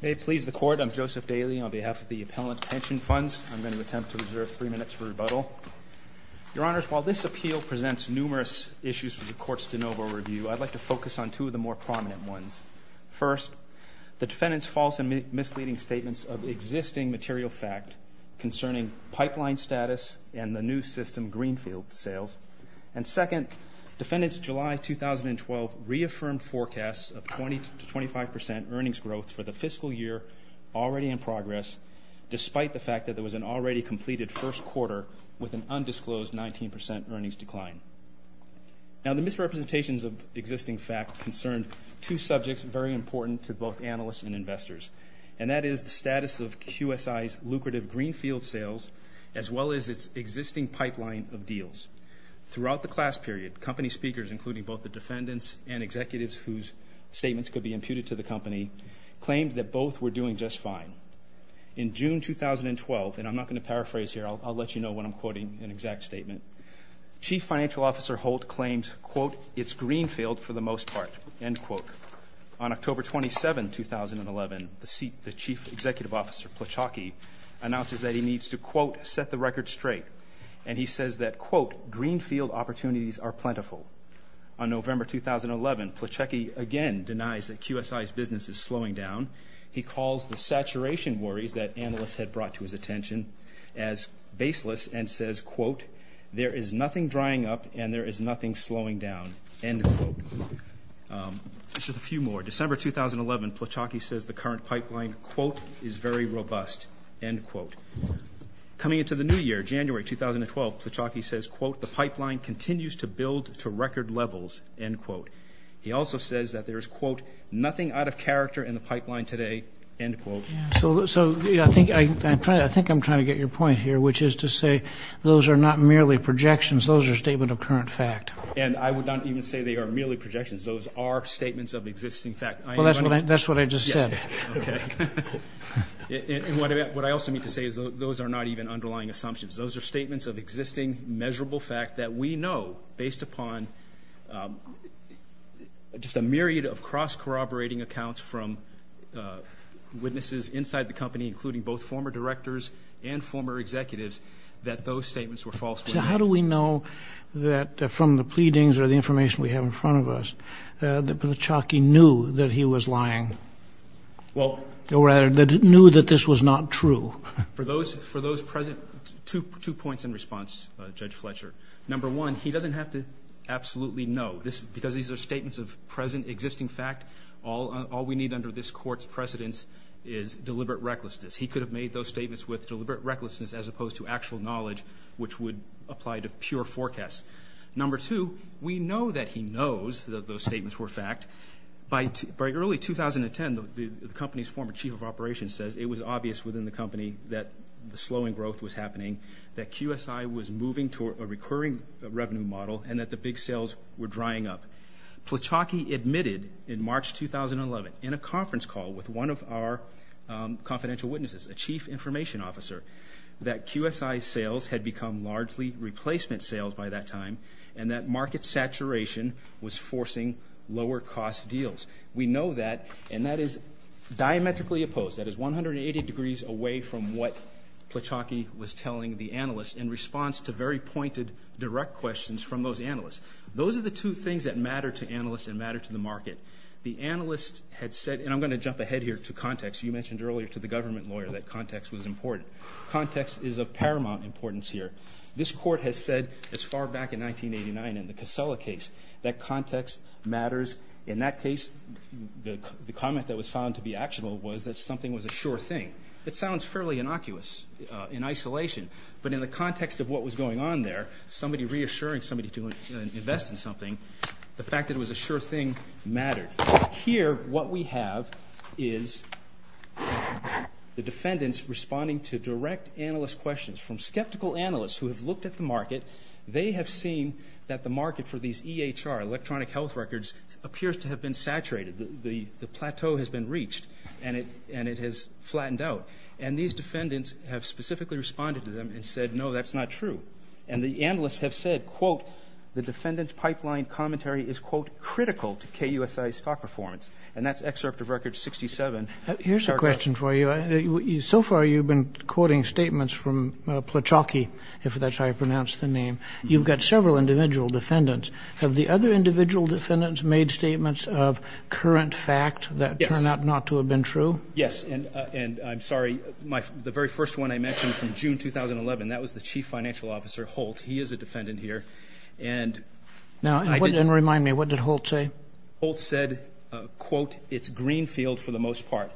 May it please the Court, I'm Joseph Daly on behalf of the Appellant Pension Funds. I'm going to attempt to reserve three minutes for rebuttal. Your Honors, while this appeal presents numerous issues for the Court's de novo review, I'd like to focus on two of the more prominent ones. First, the defendant's false and misleading statements of existing material fact concerning pipeline status and the new system greenfield sales. And second, defendant's July 2012 reaffirmed forecast of 20-25% earnings growth for the fiscal year already in progress, despite the fact that there was an already completed first quarter with an undisclosed 19% earnings decline. Now, the misrepresentations of existing fact concern two subjects very important to both analysts and investors, and that is the status of QSI's lucrative greenfield sales as well as its existing pipeline of deals. Throughout the class period, company speakers, including both the defendants and executives whose statements could be imputed to the company, claimed that both were doing just fine. In June 2012, and I'm not going to paraphrase here, I'll let you know when I'm quoting an exact statement, Chief Financial Officer Holt claimed, quote, it's greenfield for the most part, end quote. On October 27, 2011, the Chief Executive Officer Plochacki announces that he needs to, quote, set the record straight, and he says that, quote, greenfield opportunities are plentiful. On November 2011, Plochacki again denies that QSI's business is slowing down. He calls the saturation worries that analysts had brought to his attention as baseless and says, quote, there is nothing drying up and there is nothing slowing down, end quote. Just a few more. In December 2011, Plochacki says the current pipeline, quote, is very robust, end quote. Coming into the new year, January 2012, Plochacki says, quote, the pipeline continues to build to record levels, end quote. He also says that there is, quote, nothing out of character in the pipeline today, end quote. So I think I'm trying to get your point here, which is to say those are not merely projections. Those are statement of current fact. And I would not even say they are merely projections. Those are statements of existing fact. Well, that's what I just said. Okay. And what I also mean to say is those are not even underlying assumptions. Those are statements of existing measurable fact that we know, based upon just a myriad of cross-corroborating accounts from witnesses inside the company, including both former directors and former executives, that those statements were false. So how do we know that from the pleadings or the information we have in front of us, that Plochacki knew that he was lying? Or rather, that he knew that this was not true? For those present, two points in response, Judge Fletcher. Number one, he doesn't have to absolutely know. Because these are statements of present existing fact, all we need under this Court's precedence is deliberate recklessness. He could have made those statements with deliberate recklessness as opposed to actual knowledge, which would apply to pure forecasts. Number two, we know that he knows that those statements were fact. By early 2010, the company's former chief of operations says it was obvious within the company that the slowing growth was happening, that QSI was moving toward a recurring revenue model, and that the big sales were drying up. Plochacki admitted in March 2011, in a conference call with one of our confidential witnesses, a chief information officer, that QSI sales had become largely replacement sales by that time, and that market saturation was forcing lower-cost deals. We know that, and that is diametrically opposed. That is 180 degrees away from what Plochacki was telling the analysts in response to very pointed, direct questions from those analysts. Those are the two things that matter to analysts and matter to the market. The analyst had said, and I'm going to jump ahead here to context. You mentioned earlier to the government lawyer that context was important. Context is of paramount importance here. This court has said as far back in 1989 in the Casella case that context matters. In that case, the comment that was found to be actionable was that something was a sure thing. It sounds fairly innocuous in isolation, but in the context of what was going on there, somebody reassuring somebody to invest in something, the fact that it was a sure thing mattered. Here, what we have is the defendants responding to direct analyst questions from skeptical analysts who have looked at the market. They have seen that the market for these EHR, electronic health records, appears to have been saturated. The plateau has been reached, and it has flattened out. And these defendants have specifically responded to them and said, no, that's not true. And the analysts have said, quote, the defendant's pipeline commentary is, quote, critical to KUSI's stock performance. And that's excerpt of Record 67. Here's a question for you. So far you've been quoting statements from Plachocki, if that's how you pronounce the name. You've got several individual defendants. Have the other individual defendants made statements of current fact that turn out not to have been true? Yes. And I'm sorry, the very first one I mentioned from June 2011, that was the chief financial officer, Holt. He is a defendant here. And remind me, what did Holt say? Holt said, quote, it's Greenfield for the most part,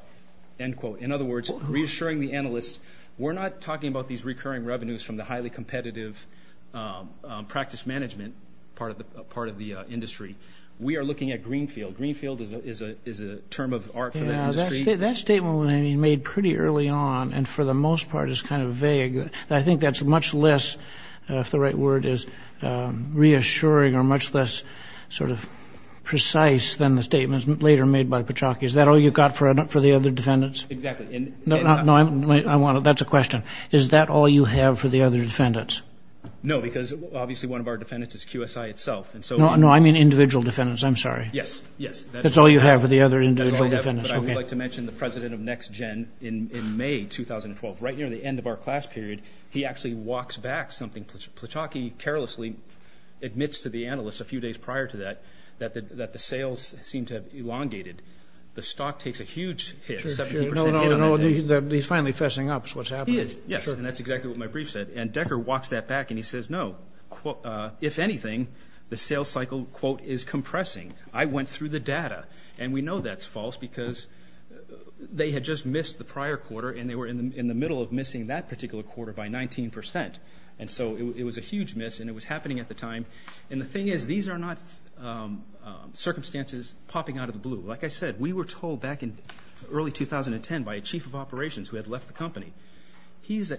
end quote. In other words, reassuring the analysts, we're not talking about these recurring revenues from the highly competitive practice management part of the industry. We are looking at Greenfield. Greenfield is a term of art for that industry. That statement was made pretty early on and for the most part is kind of vague. I think that's much less, if the right word is reassuring, or much less sort of precise than the statements later made by Plachocki. Is that all you've got for the other defendants? Exactly. No, that's a question. Is that all you have for the other defendants? No, because obviously one of our defendants is QSI itself. No, I mean individual defendants. I'm sorry. Yes, yes. That's all you have for the other individual defendants. That's all I have, but I would like to mention the president of NextGen in May 2012. Right near the end of our class period, he actually walks back something. Plachocki carelessly admits to the analysts a few days prior to that that the sales seem to have elongated. The stock takes a huge hit, 17% hit on that day. No, no, no. He's finally fessing up is what's happening. He is, yes, and that's exactly what my brief said. And Decker walks that back and he says, no, if anything, the sales cycle, quote, is compressing. I went through the data, and we know that's false because they had just missed the prior quarter and they were in the middle of missing that particular quarter by 19%. And so it was a huge miss, and it was happening at the time. And the thing is these are not circumstances popping out of the blue. Like I said, we were told back in early 2010 by a chief of operations who had left the company. He is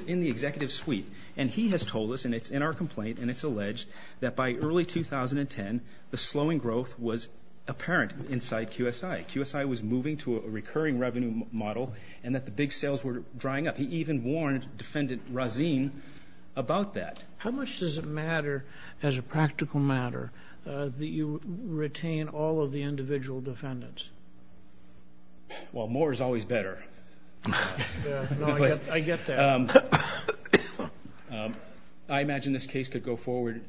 in the executive suite, and he has told us, and it's in our complaint, and it's alleged that by early 2010 the slowing growth was apparent inside QSI. QSI was moving to a recurring revenue model and that the big sales were drying up. He even warned Defendant Razin about that. How much does it matter as a practical matter that you retain all of the individual defendants? Well, more is always better. I get that. I imagine this case could go forward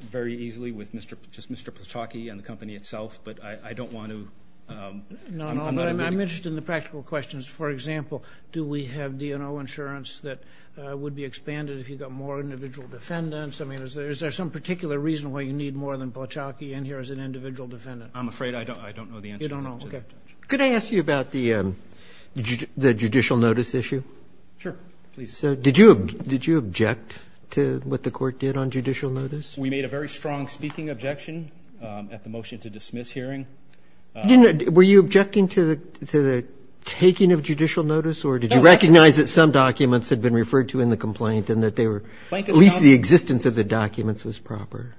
very easily with just Mr. Pachocki and the company itself, but I don't want to ---- No, no, I'm interested in the practical questions. For example, do we have DNO insurance that would be expanded if you got more individual defendants? I mean, is there some particular reason why you need more than Pachocki in here as an individual defendant? I'm afraid I don't know the answer. You don't know? Okay. Could I ask you about the judicial notice issue? Sure, please. So did you object to what the court did on judicial notice? We made a very strong speaking objection at the motion to dismiss hearing. Were you objecting to the taking of judicial notice, or did you recognize that some documents had been referred to in the complaint and that at least the existence of the documents was proper?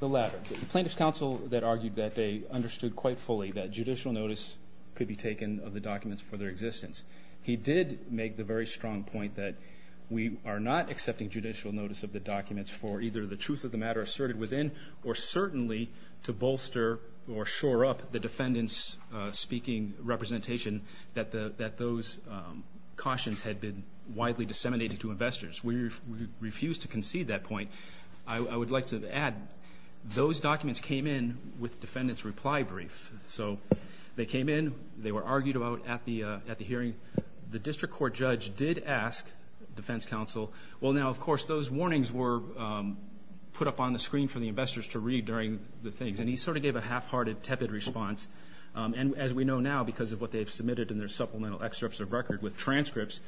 The latter. The plaintiff's counsel argued that they understood quite fully that judicial notice could be taken of the documents for their existence. He did make the very strong point that we are not accepting judicial notice of the documents for either the truth of the matter asserted within or certainly to bolster or shore up the defendant's speaking representation that those cautions had been widely disseminated to investors. We refuse to concede that point. I would like to add those documents came in with defendant's reply brief. So they came in. They were argued about at the hearing. The district court judge did ask defense counsel, well, now, of course, those warnings were put up on the screen for the investors to read during the things, and he sort of gave a half-hearted, tepid response. And as we know now because of what they've submitted in their supplemental excerpts of record with transcripts,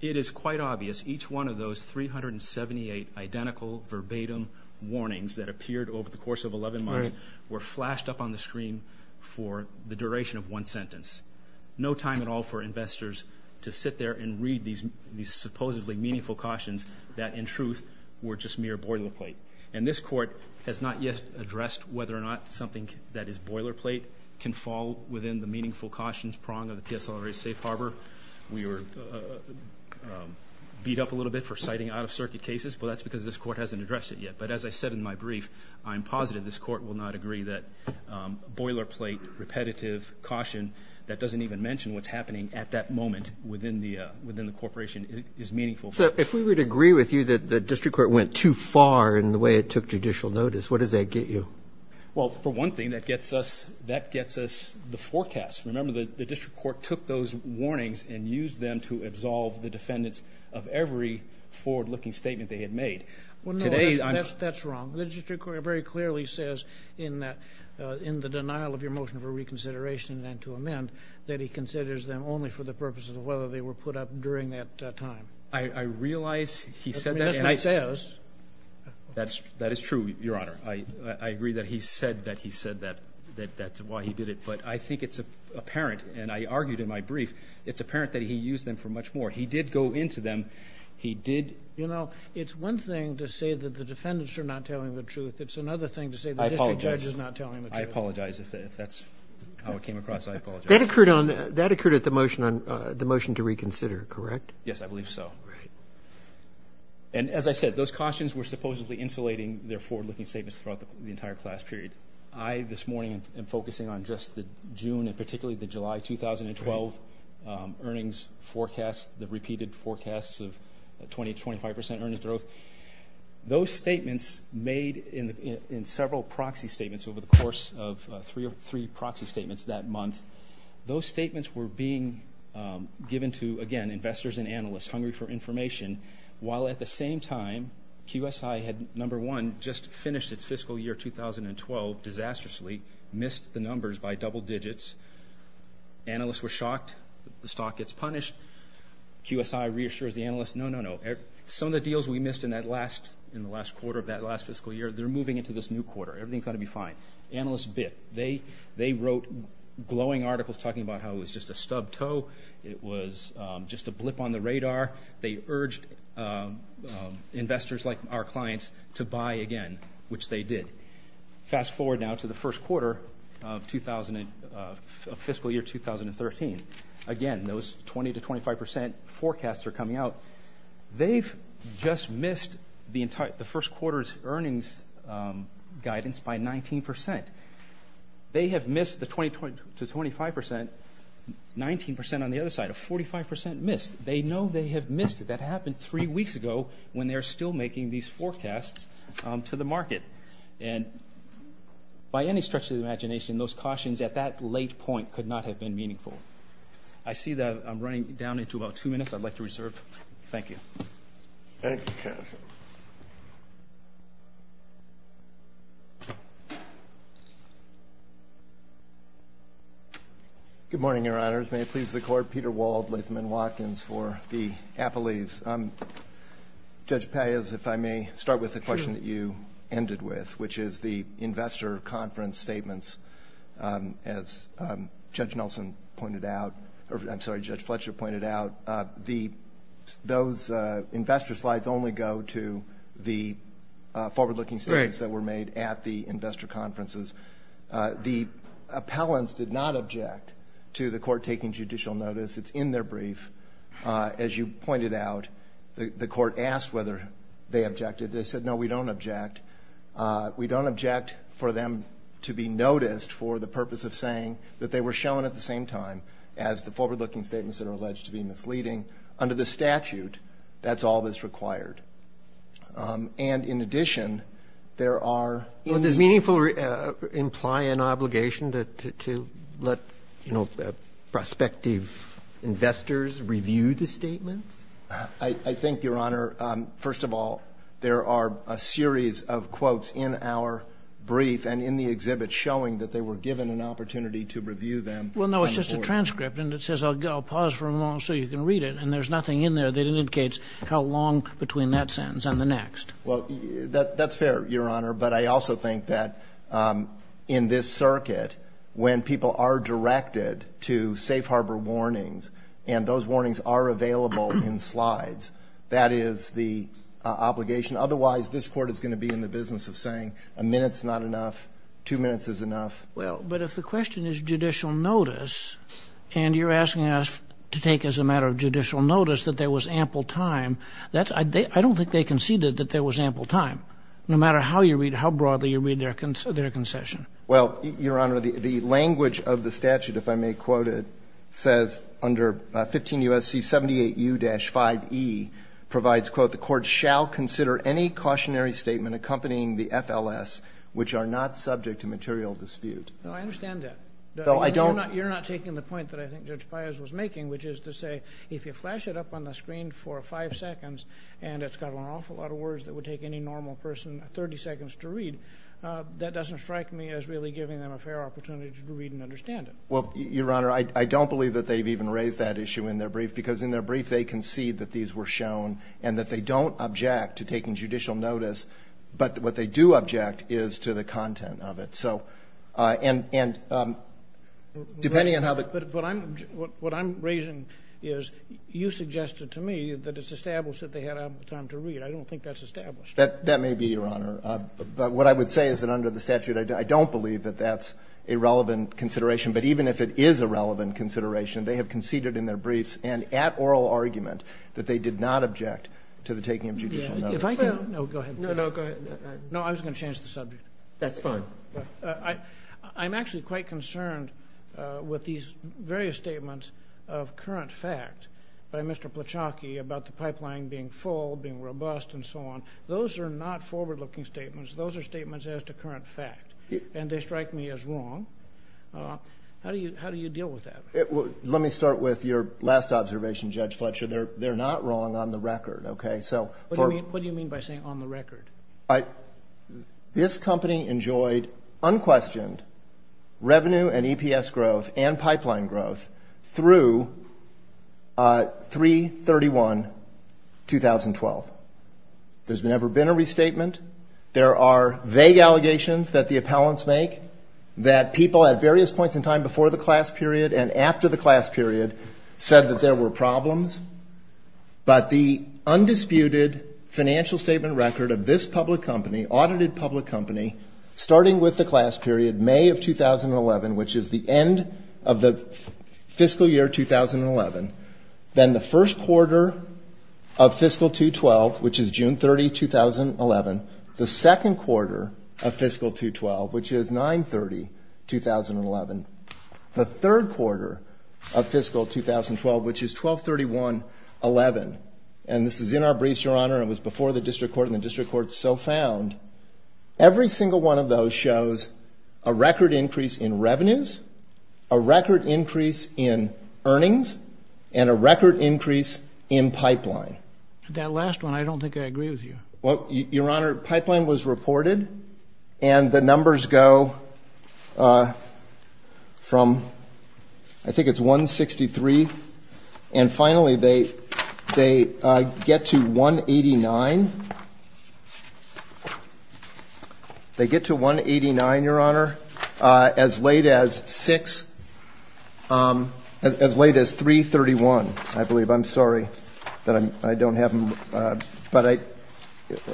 it is quite obvious each one of those 378 identical verbatim warnings that appeared over the course of 11 months were flashed up on the screen for the duration of one sentence. No time at all for investors to sit there and read these supposedly meaningful cautions that, in truth, were just mere boilerplate. And this court has not yet addressed whether or not something that is boilerplate can fall within the meaningful cautions prong of the PSLRA Safe Harbor. We were beat up a little bit for citing out-of-circuit cases, but that's because this court hasn't addressed it yet. But as I said in my brief, I'm positive this court will not agree that boilerplate repetitive caution that doesn't even mention what's happening at that moment within the corporation is meaningful. So if we would agree with you that the district court went too far in the way it took judicial notice, what does that get you? Well, for one thing, that gets us the forecast. Remember, the district court took those warnings and used them to absolve the defendants of every forward-looking statement they had made. Well, no, that's wrong. The district court very clearly says in the denial of your motion for reconsideration and then to amend that he considers them only for the purposes of whether they were put up during that time. I realize he said that. The minister says. That is true, Your Honor. I agree that he said that he said that, that's why he did it. But I think it's apparent, and I argued in my brief, it's apparent that he used them for much more. He did go into them. You know, it's one thing to say that the defendants are not telling the truth. It's another thing to say the district judge is not telling the truth. I apologize. If that's how it came across, I apologize. That occurred at the motion to reconsider, correct? Yes, I believe so. And as I said, those cautions were supposedly insulating their forward-looking statements throughout the entire class period. I, this morning, am focusing on just the June and particularly the July 2012 earnings forecast, the repeated forecasts of 20%, 25% earnings growth. Those statements made in several proxy statements over the course of three proxy statements that month, those statements were being given to, again, investors and analysts hungry for information, while at the same time, QSI had, number one, just finished its fiscal year 2012 disastrously, missed the numbers by double digits. Analysts were shocked. The stock gets punished. QSI reassures the analysts, no, no, no. Some of the deals we missed in that last quarter of that last fiscal year, they're moving into this new quarter. Everything's going to be fine. Analysts bit. They wrote glowing articles talking about how it was just a stubbed toe. It was just a blip on the radar. They urged investors like our clients to buy again, which they did. Fast forward now to the first quarter of fiscal year 2013. Again, those 20% to 25% forecasts are coming out. They've just missed the first quarter's earnings guidance by 19%. They have missed the 20% to 25% 19% on the other side, a 45% miss. They know they have missed it. That happened three weeks ago when they're still making these forecasts to the market. And by any stretch of the imagination, those cautions at that late point could not have been meaningful. I see that I'm running down into about two minutes. I'd like to reserve. Thank you. Thank you, Kenneth. Good morning, Your Honors. May it please the Court. Peter Wald, Latham & Watkins for the appellees. Judge Pallias, if I may, start with the question that you ended with, which is the investor conference statements, as Judge Nelson pointed out. I'm sorry, Judge Fletcher pointed out. Those investor slides only go to the forward-looking statements that were made at the investor conferences. The appellants did not object to the Court taking judicial notice. It's in their brief. As you pointed out, the Court asked whether they objected. They said, no, we don't object. We don't object for them to be noticed for the purpose of saying that they were shown at the same time as the forward-looking statements that are alleged to be misleading. Under the statute, that's all that's required. And, in addition, there are – Does meaningful imply an obligation to let, you know, prospective investors review the statements? I think, Your Honor, first of all, there are a series of quotes in our brief and in the exhibit showing that they were given an opportunity to review them. Well, no, it's just a transcript, and it says I'll pause for a moment so you can read it, and there's nothing in there that indicates how long between that sentence and the next. Well, that's fair, Your Honor, but I also think that in this circuit when people are directed to safe harbor warnings and those warnings are available in slides, that is the obligation. Otherwise, this Court is going to be in the business of saying a minute's not enough, two minutes is enough. Well, but if the question is judicial notice, and you're asking us to take as a matter of judicial notice that there was ample time, I don't think they conceded that there was ample time, no matter how you read, how broadly you read their concession. Well, Your Honor, the language of the statute, if I may quote it, says under 15 U.S.C. 78U-5E provides, quote, the Court shall consider any cautionary statement accompanying the FLS, which are not subject to material dispute. No, I understand that. No, I don't. You're not taking the point that I think Judge Pius was making, which is to say if you flash it up on the screen for five seconds and it's got an awful lot of words that would take any normal person 30 seconds to read, that doesn't strike me as really giving them a fair opportunity to read and understand it. Well, Your Honor, I don't believe that they've even raised that issue in their brief if they concede that these were shown and that they don't object to taking judicial notice, but what they do object is to the content of it. So and depending on how the ---- But what I'm raising is you suggested to me that it's established that they had ample time to read. I don't think that's established. That may be, Your Honor. But what I would say is that under the statute I don't believe that that's a relevant consideration. But even if it is a relevant consideration, they have conceded in their briefs and at oral argument that they did not object to the taking of judicial notice. If I can ---- No, go ahead. No, no, go ahead. No, I was going to change the subject. That's fine. I'm actually quite concerned with these various statements of current fact by Mr. Plachocki about the pipeline being full, being robust, and so on. Those are not forward-looking statements. Those are statements as to current fact, and they strike me as wrong. How do you deal with that? Let me start with your last observation, Judge Fletcher. They're not wrong on the record. Okay? What do you mean by saying on the record? This company enjoyed unquestioned revenue and EPS growth and pipeline growth through 3-31-2012. There's never been a restatement. There are vague allegations that the appellants make that people at various points in time before the class period and after the class period said that there were problems. But the undisputed financial statement record of this public company, audited public company, starting with the class period May of 2011, which is the end of the fiscal year 2011, then the first quarter of fiscal 2-12, which is June 30, 2011, the second quarter of fiscal 2-12, which is 9-30-2011, the third quarter of fiscal 2012, which is 12-31-11. And this is in our briefs, Your Honor. It was before the district court, and the district court so found. Every single one of those shows a record increase in revenues, a record increase in earnings, and a record increase in pipeline. That last one, I don't think I agree with you. Well, Your Honor, pipeline was reported, and the numbers go from, I think it's 163, and finally they get to 189. They get to 189, Your Honor, as late as 6, as late as 3-31, I believe. I'm sorry that I don't have them, but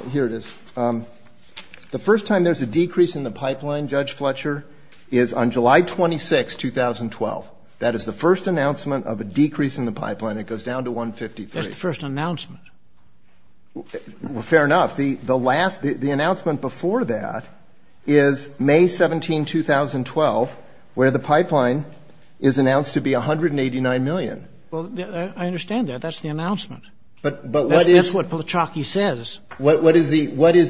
here it is. The first time there's a decrease in the pipeline, Judge Fletcher, is on July 26, 2012. That is the first announcement of a decrease in the pipeline. It goes down to 153. That's the first announcement. Fair enough. The announcement before that is May 17, 2012, where the pipeline is announced to be 189 million. Well, I understand that. That's the announcement. That's what Palachocki says. What is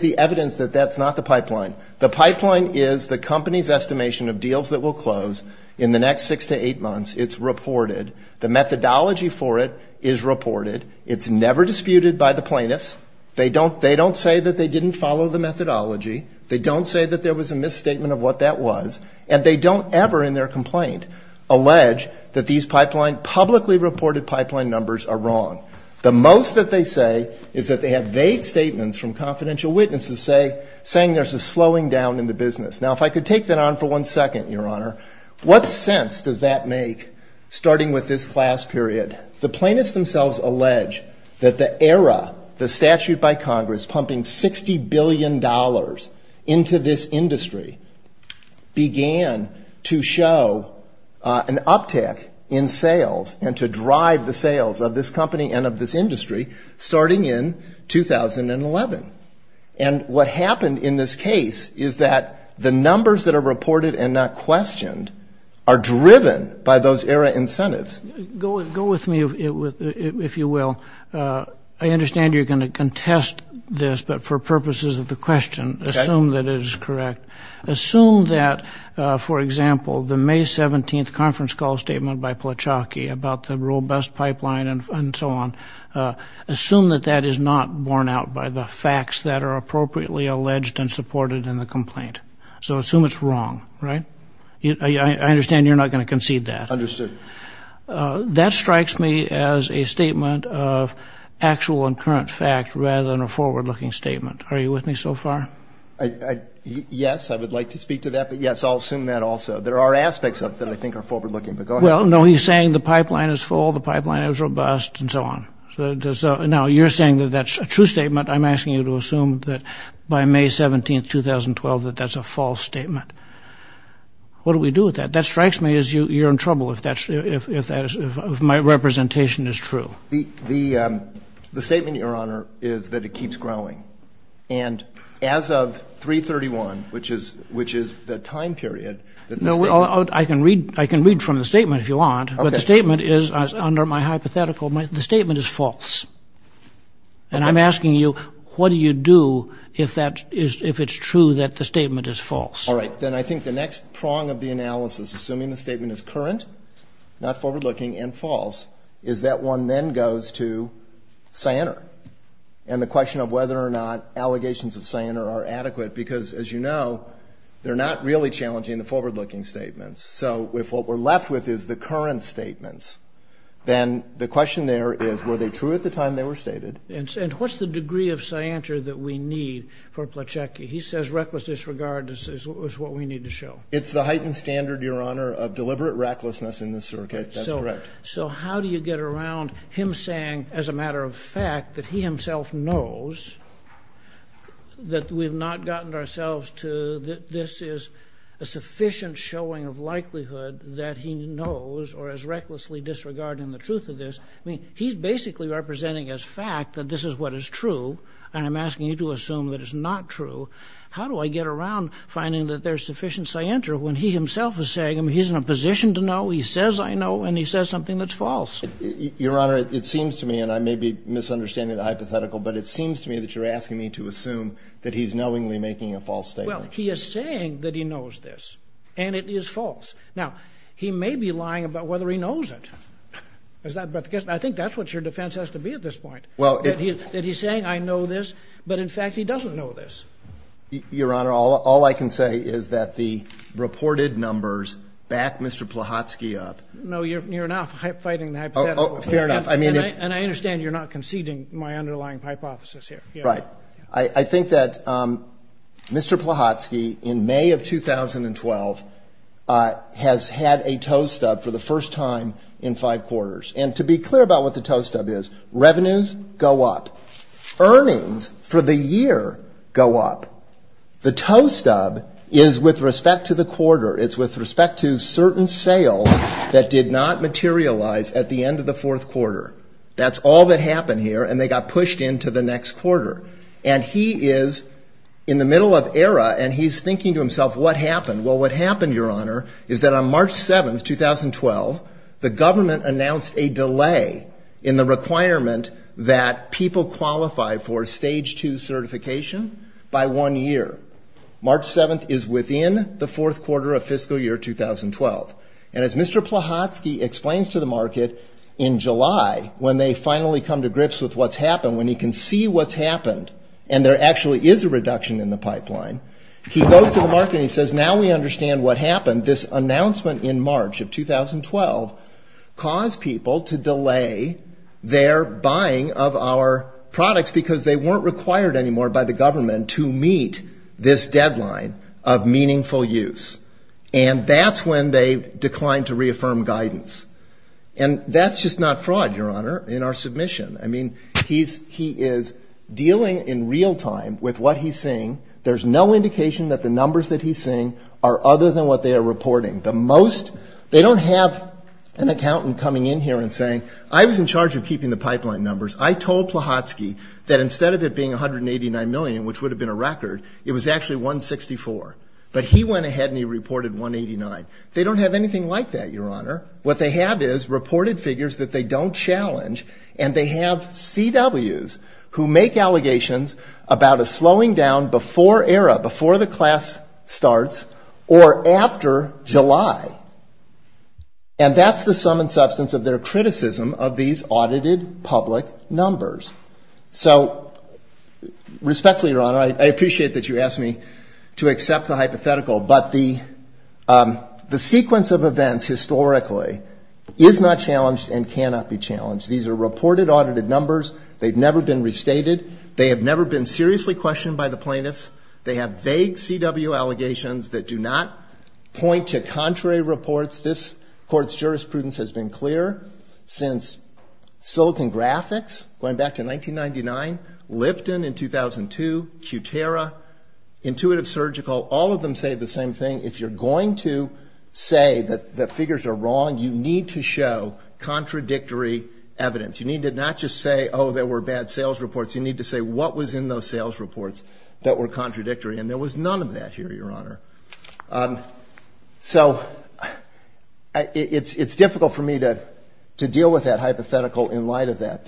the evidence that that's not the pipeline? The pipeline is the company's estimation of deals that will close in the next six to eight months. It's reported. The methodology for it is reported. It's never disputed by the plaintiffs. They don't say that they didn't follow the methodology. They don't say that there was a misstatement of what that was. And they don't ever in their complaint allege that these publicly reported pipeline numbers are wrong. The most that they say is that they have vague statements from confidential witnesses saying there's a slowing down in the business. Now, if I could take that on for one second, Your Honor, what sense does that make, starting with this class period? The plaintiffs themselves allege that the era, the statute by Congress pumping $60 billion into this industry, began to show an uptick in sales and to drive the sales of this company and of this industry starting in 2011. And what happened in this case is that the numbers that are reported and not questioned are driven by those era incentives. Go with me, if you will. I understand you're going to contest this, but for purposes of the question, assume that it is correct. Assume that, for example, the May 17th conference call statement by Plochacki about the robust pipeline and so on, assume that that is not borne out by the facts that are appropriately alleged and supported in the complaint. So assume it's wrong, right? I understand you're not going to concede that. Understood. That strikes me as a statement of actual and current fact rather than a forward-looking statement. Are you with me so far? Yes, I would like to speak to that, but, yes, I'll assume that also. There are aspects of it that I think are forward-looking, but go ahead. Well, no, he's saying the pipeline is full, the pipeline is robust, and so on. Now, you're saying that that's a true statement. I'm asking you to assume that by May 17th, 2012, that that's a false statement. What do we do with that? That strikes me as you're in trouble if that's, if my representation is true. The statement, Your Honor, is that it keeps growing. And as of 331, which is the time period that the statement. I can read from the statement if you want. Okay. But the statement is, under my hypothetical, the statement is false. And I'm asking you what do you do if that is, if it's true that the statement is false? All right. Then I think the next prong of the analysis, assuming the statement is current, not forward-looking, and false, is that one then goes to Sianer. And the question of whether or not allegations of Sianer are adequate, because, as you know, they're not really challenging the forward-looking statements. So if what we're left with is the current statements, then the question there is were they true at the time they were stated? And what's the degree of Sianer that we need for Plochecki? He says reckless disregard is what we need to show. It's the heightened standard, Your Honor, of deliberate recklessness in this circuit. That's correct. So how do you get around him saying, as a matter of fact, that he himself knows that we've not gotten ourselves to, that this is a sufficient showing of likelihood that he knows or is recklessly disregarding the truth of this. I mean, he's basically representing as fact that this is what is true. And I'm asking you to assume that it's not true. How do I get around finding that there's sufficient Sianter when he himself is saying, I mean, he's in a position to know, he says I know, and he says something that's false? Your Honor, it seems to me, and I may be misunderstanding the hypothetical, but it seems to me that you're asking me to assume that he's knowingly making a false statement. Well, he is saying that he knows this, and it is false. Now, he may be lying about whether he knows it. I think that's what your defense has to be at this point, that he's saying I know this, but, in fact, he doesn't know this. Your Honor, all I can say is that the reported numbers back Mr. Plahotsky up. No, you're now fighting the hypothetical. Fair enough. And I understand you're not conceding my underlying hypothesis here. Right. I think that Mr. Plahotsky, in May of 2012, has had a toe stub for the first time in five quarters. And to be clear about what the toe stub is, revenues go up. Earnings for the year go up. The toe stub is with respect to the quarter. It's with respect to certain sales that did not materialize at the end of the fourth quarter. That's all that happened here, and they got pushed into the next quarter. And he is in the middle of error, and he's thinking to himself, what happened? Well, what happened, Your Honor, is that on March 7th, 2012, the government announced a delay in the requirement that people qualify for a Stage 2 certification by one year. March 7th is within the fourth quarter of fiscal year 2012. And as Mr. Plahotsky explains to the market in July, when they finally come to grips with what's happened, when he can see what's happened and there actually is a reduction in the pipeline, he goes to the market and he says, now we understand what happened. This announcement in March of 2012 caused people to delay their buying of our products because they weren't required anymore by the government to meet this deadline of meaningful use. And that's when they declined to reaffirm guidance. And that's just not fraud, Your Honor, in our submission. I mean, he is dealing in real time with what he's seeing. There's no indication that the numbers that he's seeing are other than what they are reporting. The most, they don't have an accountant coming in here and saying, I was in charge of keeping the pipeline numbers. I told Plahotsky that instead of it being 189 million, which would have been a record, it was actually 164. But he went ahead and he reported 189. They don't have anything like that, Your Honor. What they have is reported figures that they don't challenge, and they have CWs who make allegations about a slowing down before ERA, before the class starts, or after July. And that's the sum and substance of their criticism of these audited public numbers. So respectfully, Your Honor, I appreciate that you asked me to accept the hypothetical, but the sequence of events historically is not challenged and cannot be challenged. These are reported audited numbers. They've never been restated. They have never been seriously questioned by the plaintiffs. They have vague CW allegations that do not point to contrary reports. This Court's jurisprudence has been clear since Silicon Graphics going back to 1999, Lipton in 2002, QTERA, Intuitive Surgical. All of them say the same thing. If you're going to say that figures are wrong, you need to show contradictory evidence. You need to not just say, oh, there were bad sales reports. You need to say what was in those sales reports that were contradictory. And there was none of that here, Your Honor. So it's difficult for me to deal with that hypothetical in light of that.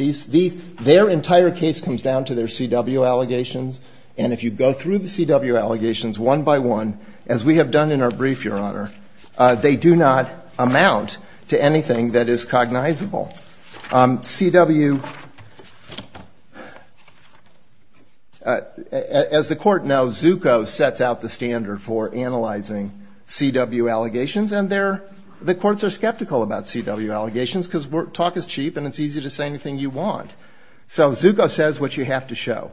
Their entire case comes down to their CW allegations, and if you go through the CW allegations one by one, as we have done in our brief, Your Honor, they do not amount to anything that is cognizable. CW, as the Court knows, Zucco sets out the standard for analyzing CW allegations, and the courts are skeptical about CW allegations because talk is cheap and it's easy to say anything you want. So Zucco says what you have to show,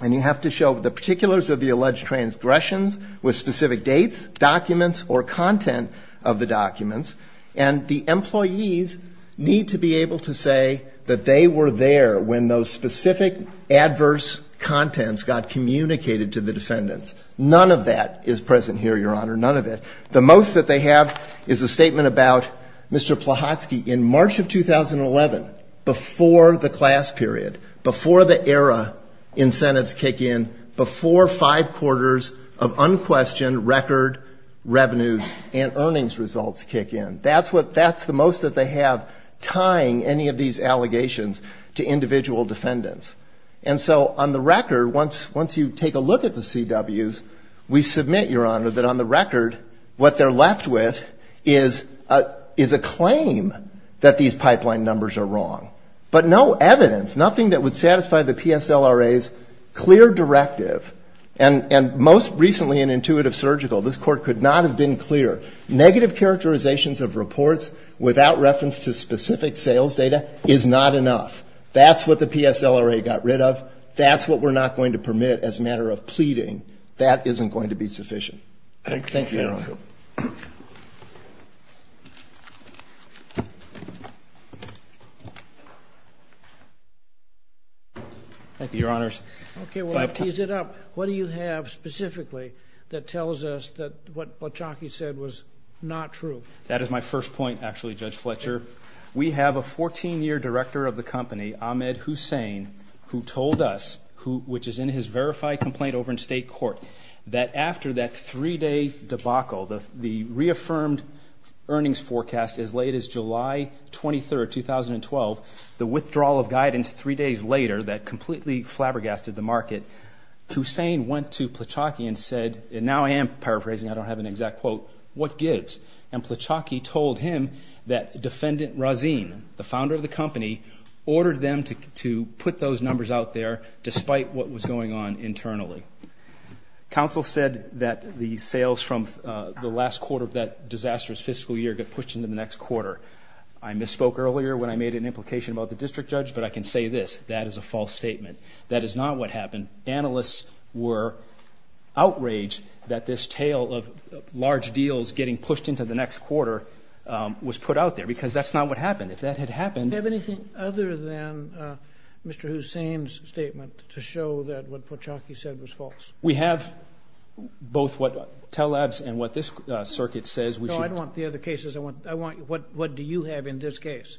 and you have to show the particulars of the alleged transgressions with specific dates, documents, or content of the documents. And the employees need to be able to say that they were there when those specific adverse contents got communicated to the defendants. None of that is present here, Your Honor, none of it. The most that they have is a statement about Mr. Plahotsky in March of 2011, before the class period, before the era incentives kick in, before five quarters of unquestioned record revenues and earnings results kick in. That's the most that they have tying any of these allegations to individual defendants. And so on the record, once you take a look at the CWs, we submit, Your Honor, that on the record what they're left with is a claim that these pipeline numbers are wrong. But no evidence, nothing that would satisfy the PSLRA's clear directive. And most recently in intuitive surgical, this Court could not have been clearer. Negative characterizations of reports without reference to specific sales data is not enough. That's what the PSLRA got rid of. That's what we're not going to permit as a matter of pleading. Thank you, Your Honor. Thank you. Thank you, Your Honors. Okay, well, I've teased it up. What do you have specifically that tells us that what Plahotsky said was not true? That is my first point, actually, Judge Fletcher. We have a 14-year director of the company, Ahmed Hussain, who told us, which is in his debacle, the reaffirmed earnings forecast as late as July 23, 2012, the withdrawal of guidance three days later that completely flabbergasted the market. Hussain went to Plahotsky and said, and now I am paraphrasing, I don't have an exact quote, what gives? And Plahotsky told him that Defendant Razin, the founder of the company, ordered them to Council said that the sales from the last quarter of that disastrous fiscal year get pushed into the next quarter. I misspoke earlier when I made an implication about the district judge, but I can say this. That is a false statement. That is not what happened. Analysts were outraged that this tale of large deals getting pushed into the next quarter was put out there, because that's not what happened. If that had happened— We have both what Telabs and what this circuit says we should— No, I don't want the other cases. I want what do you have in this case?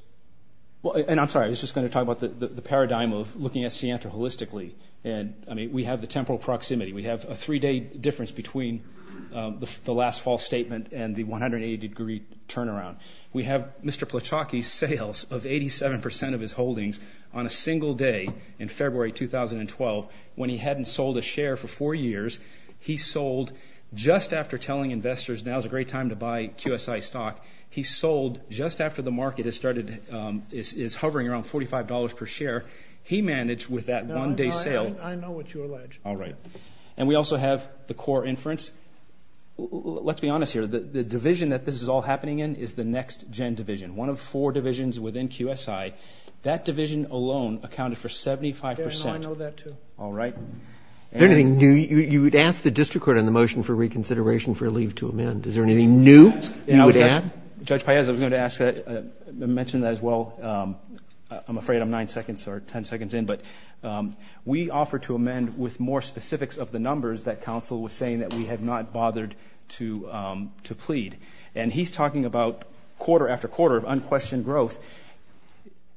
And I'm sorry, I was just going to talk about the paradigm of looking at Sientra holistically. And, I mean, we have the temporal proximity. We have a three-day difference between the last false statement and the 180-degree turnaround. We have Mr. Plahotsky's sales of 87 percent of his holdings on a single day in February 2012 when he hadn't sold a share for four years. He sold just after telling investors now is a great time to buy QSI stock. He sold just after the market has started—is hovering around $45 per share. He managed with that one-day sale— I know what you allege. All right. And we also have the core inference. Let's be honest here. The division that this is all happening in is the next-gen division, one of four divisions within QSI. That division alone accounted for 75 percent. I know that, too. All right. Is there anything new? You would ask the district court on the motion for reconsideration for a leave to amend. Is there anything new you would add? Judge Paez, I was going to mention that as well. I'm afraid I'm nine seconds or ten seconds in. But we offer to amend with more specifics of the numbers that counsel was saying that we have not bothered to plead. And he's talking about quarter after quarter of unquestioned growth.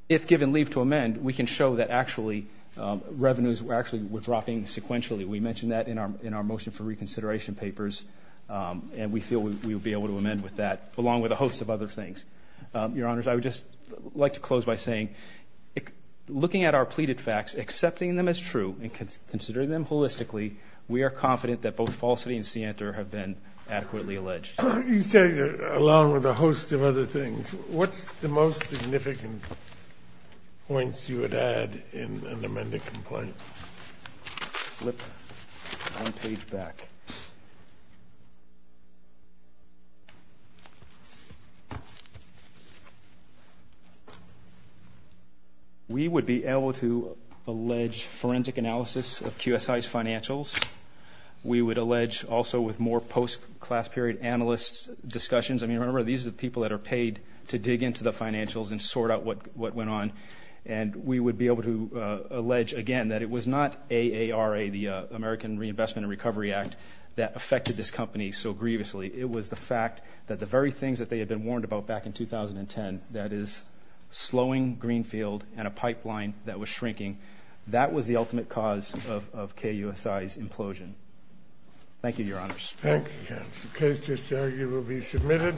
If given leave to amend, we can show that actually revenues were actually withdrawing sequentially. We mentioned that in our motion for reconsideration papers, and we feel we would be able to amend with that, along with a host of other things. Your Honors, I would just like to close by saying, looking at our pleaded facts, accepting them as true, and considering them holistically, we are confident that both falsity and scienter have been adequately alleged. You say along with a host of other things. What's the most significant points you would add in an amended complaint? Flip one page back. We would be able to allege forensic analysis of QSI's financials. We would allege also with more post-class period analysts' discussions. I mean, remember, these are the people that are paid to dig into the financials and sort out what went on. And we would be able to allege again that it was not AARA, the American Reinvestment and Recovery Act, that affected this company so grievously. It was the fact that the very things that they had been warned about back in 2010, that is slowing Greenfield and a pipeline that was shrinking, that was the ultimate cause of KUSI's implosion. Thank you, Your Honors. Thank you, counsel. The case is there. You will be submitted.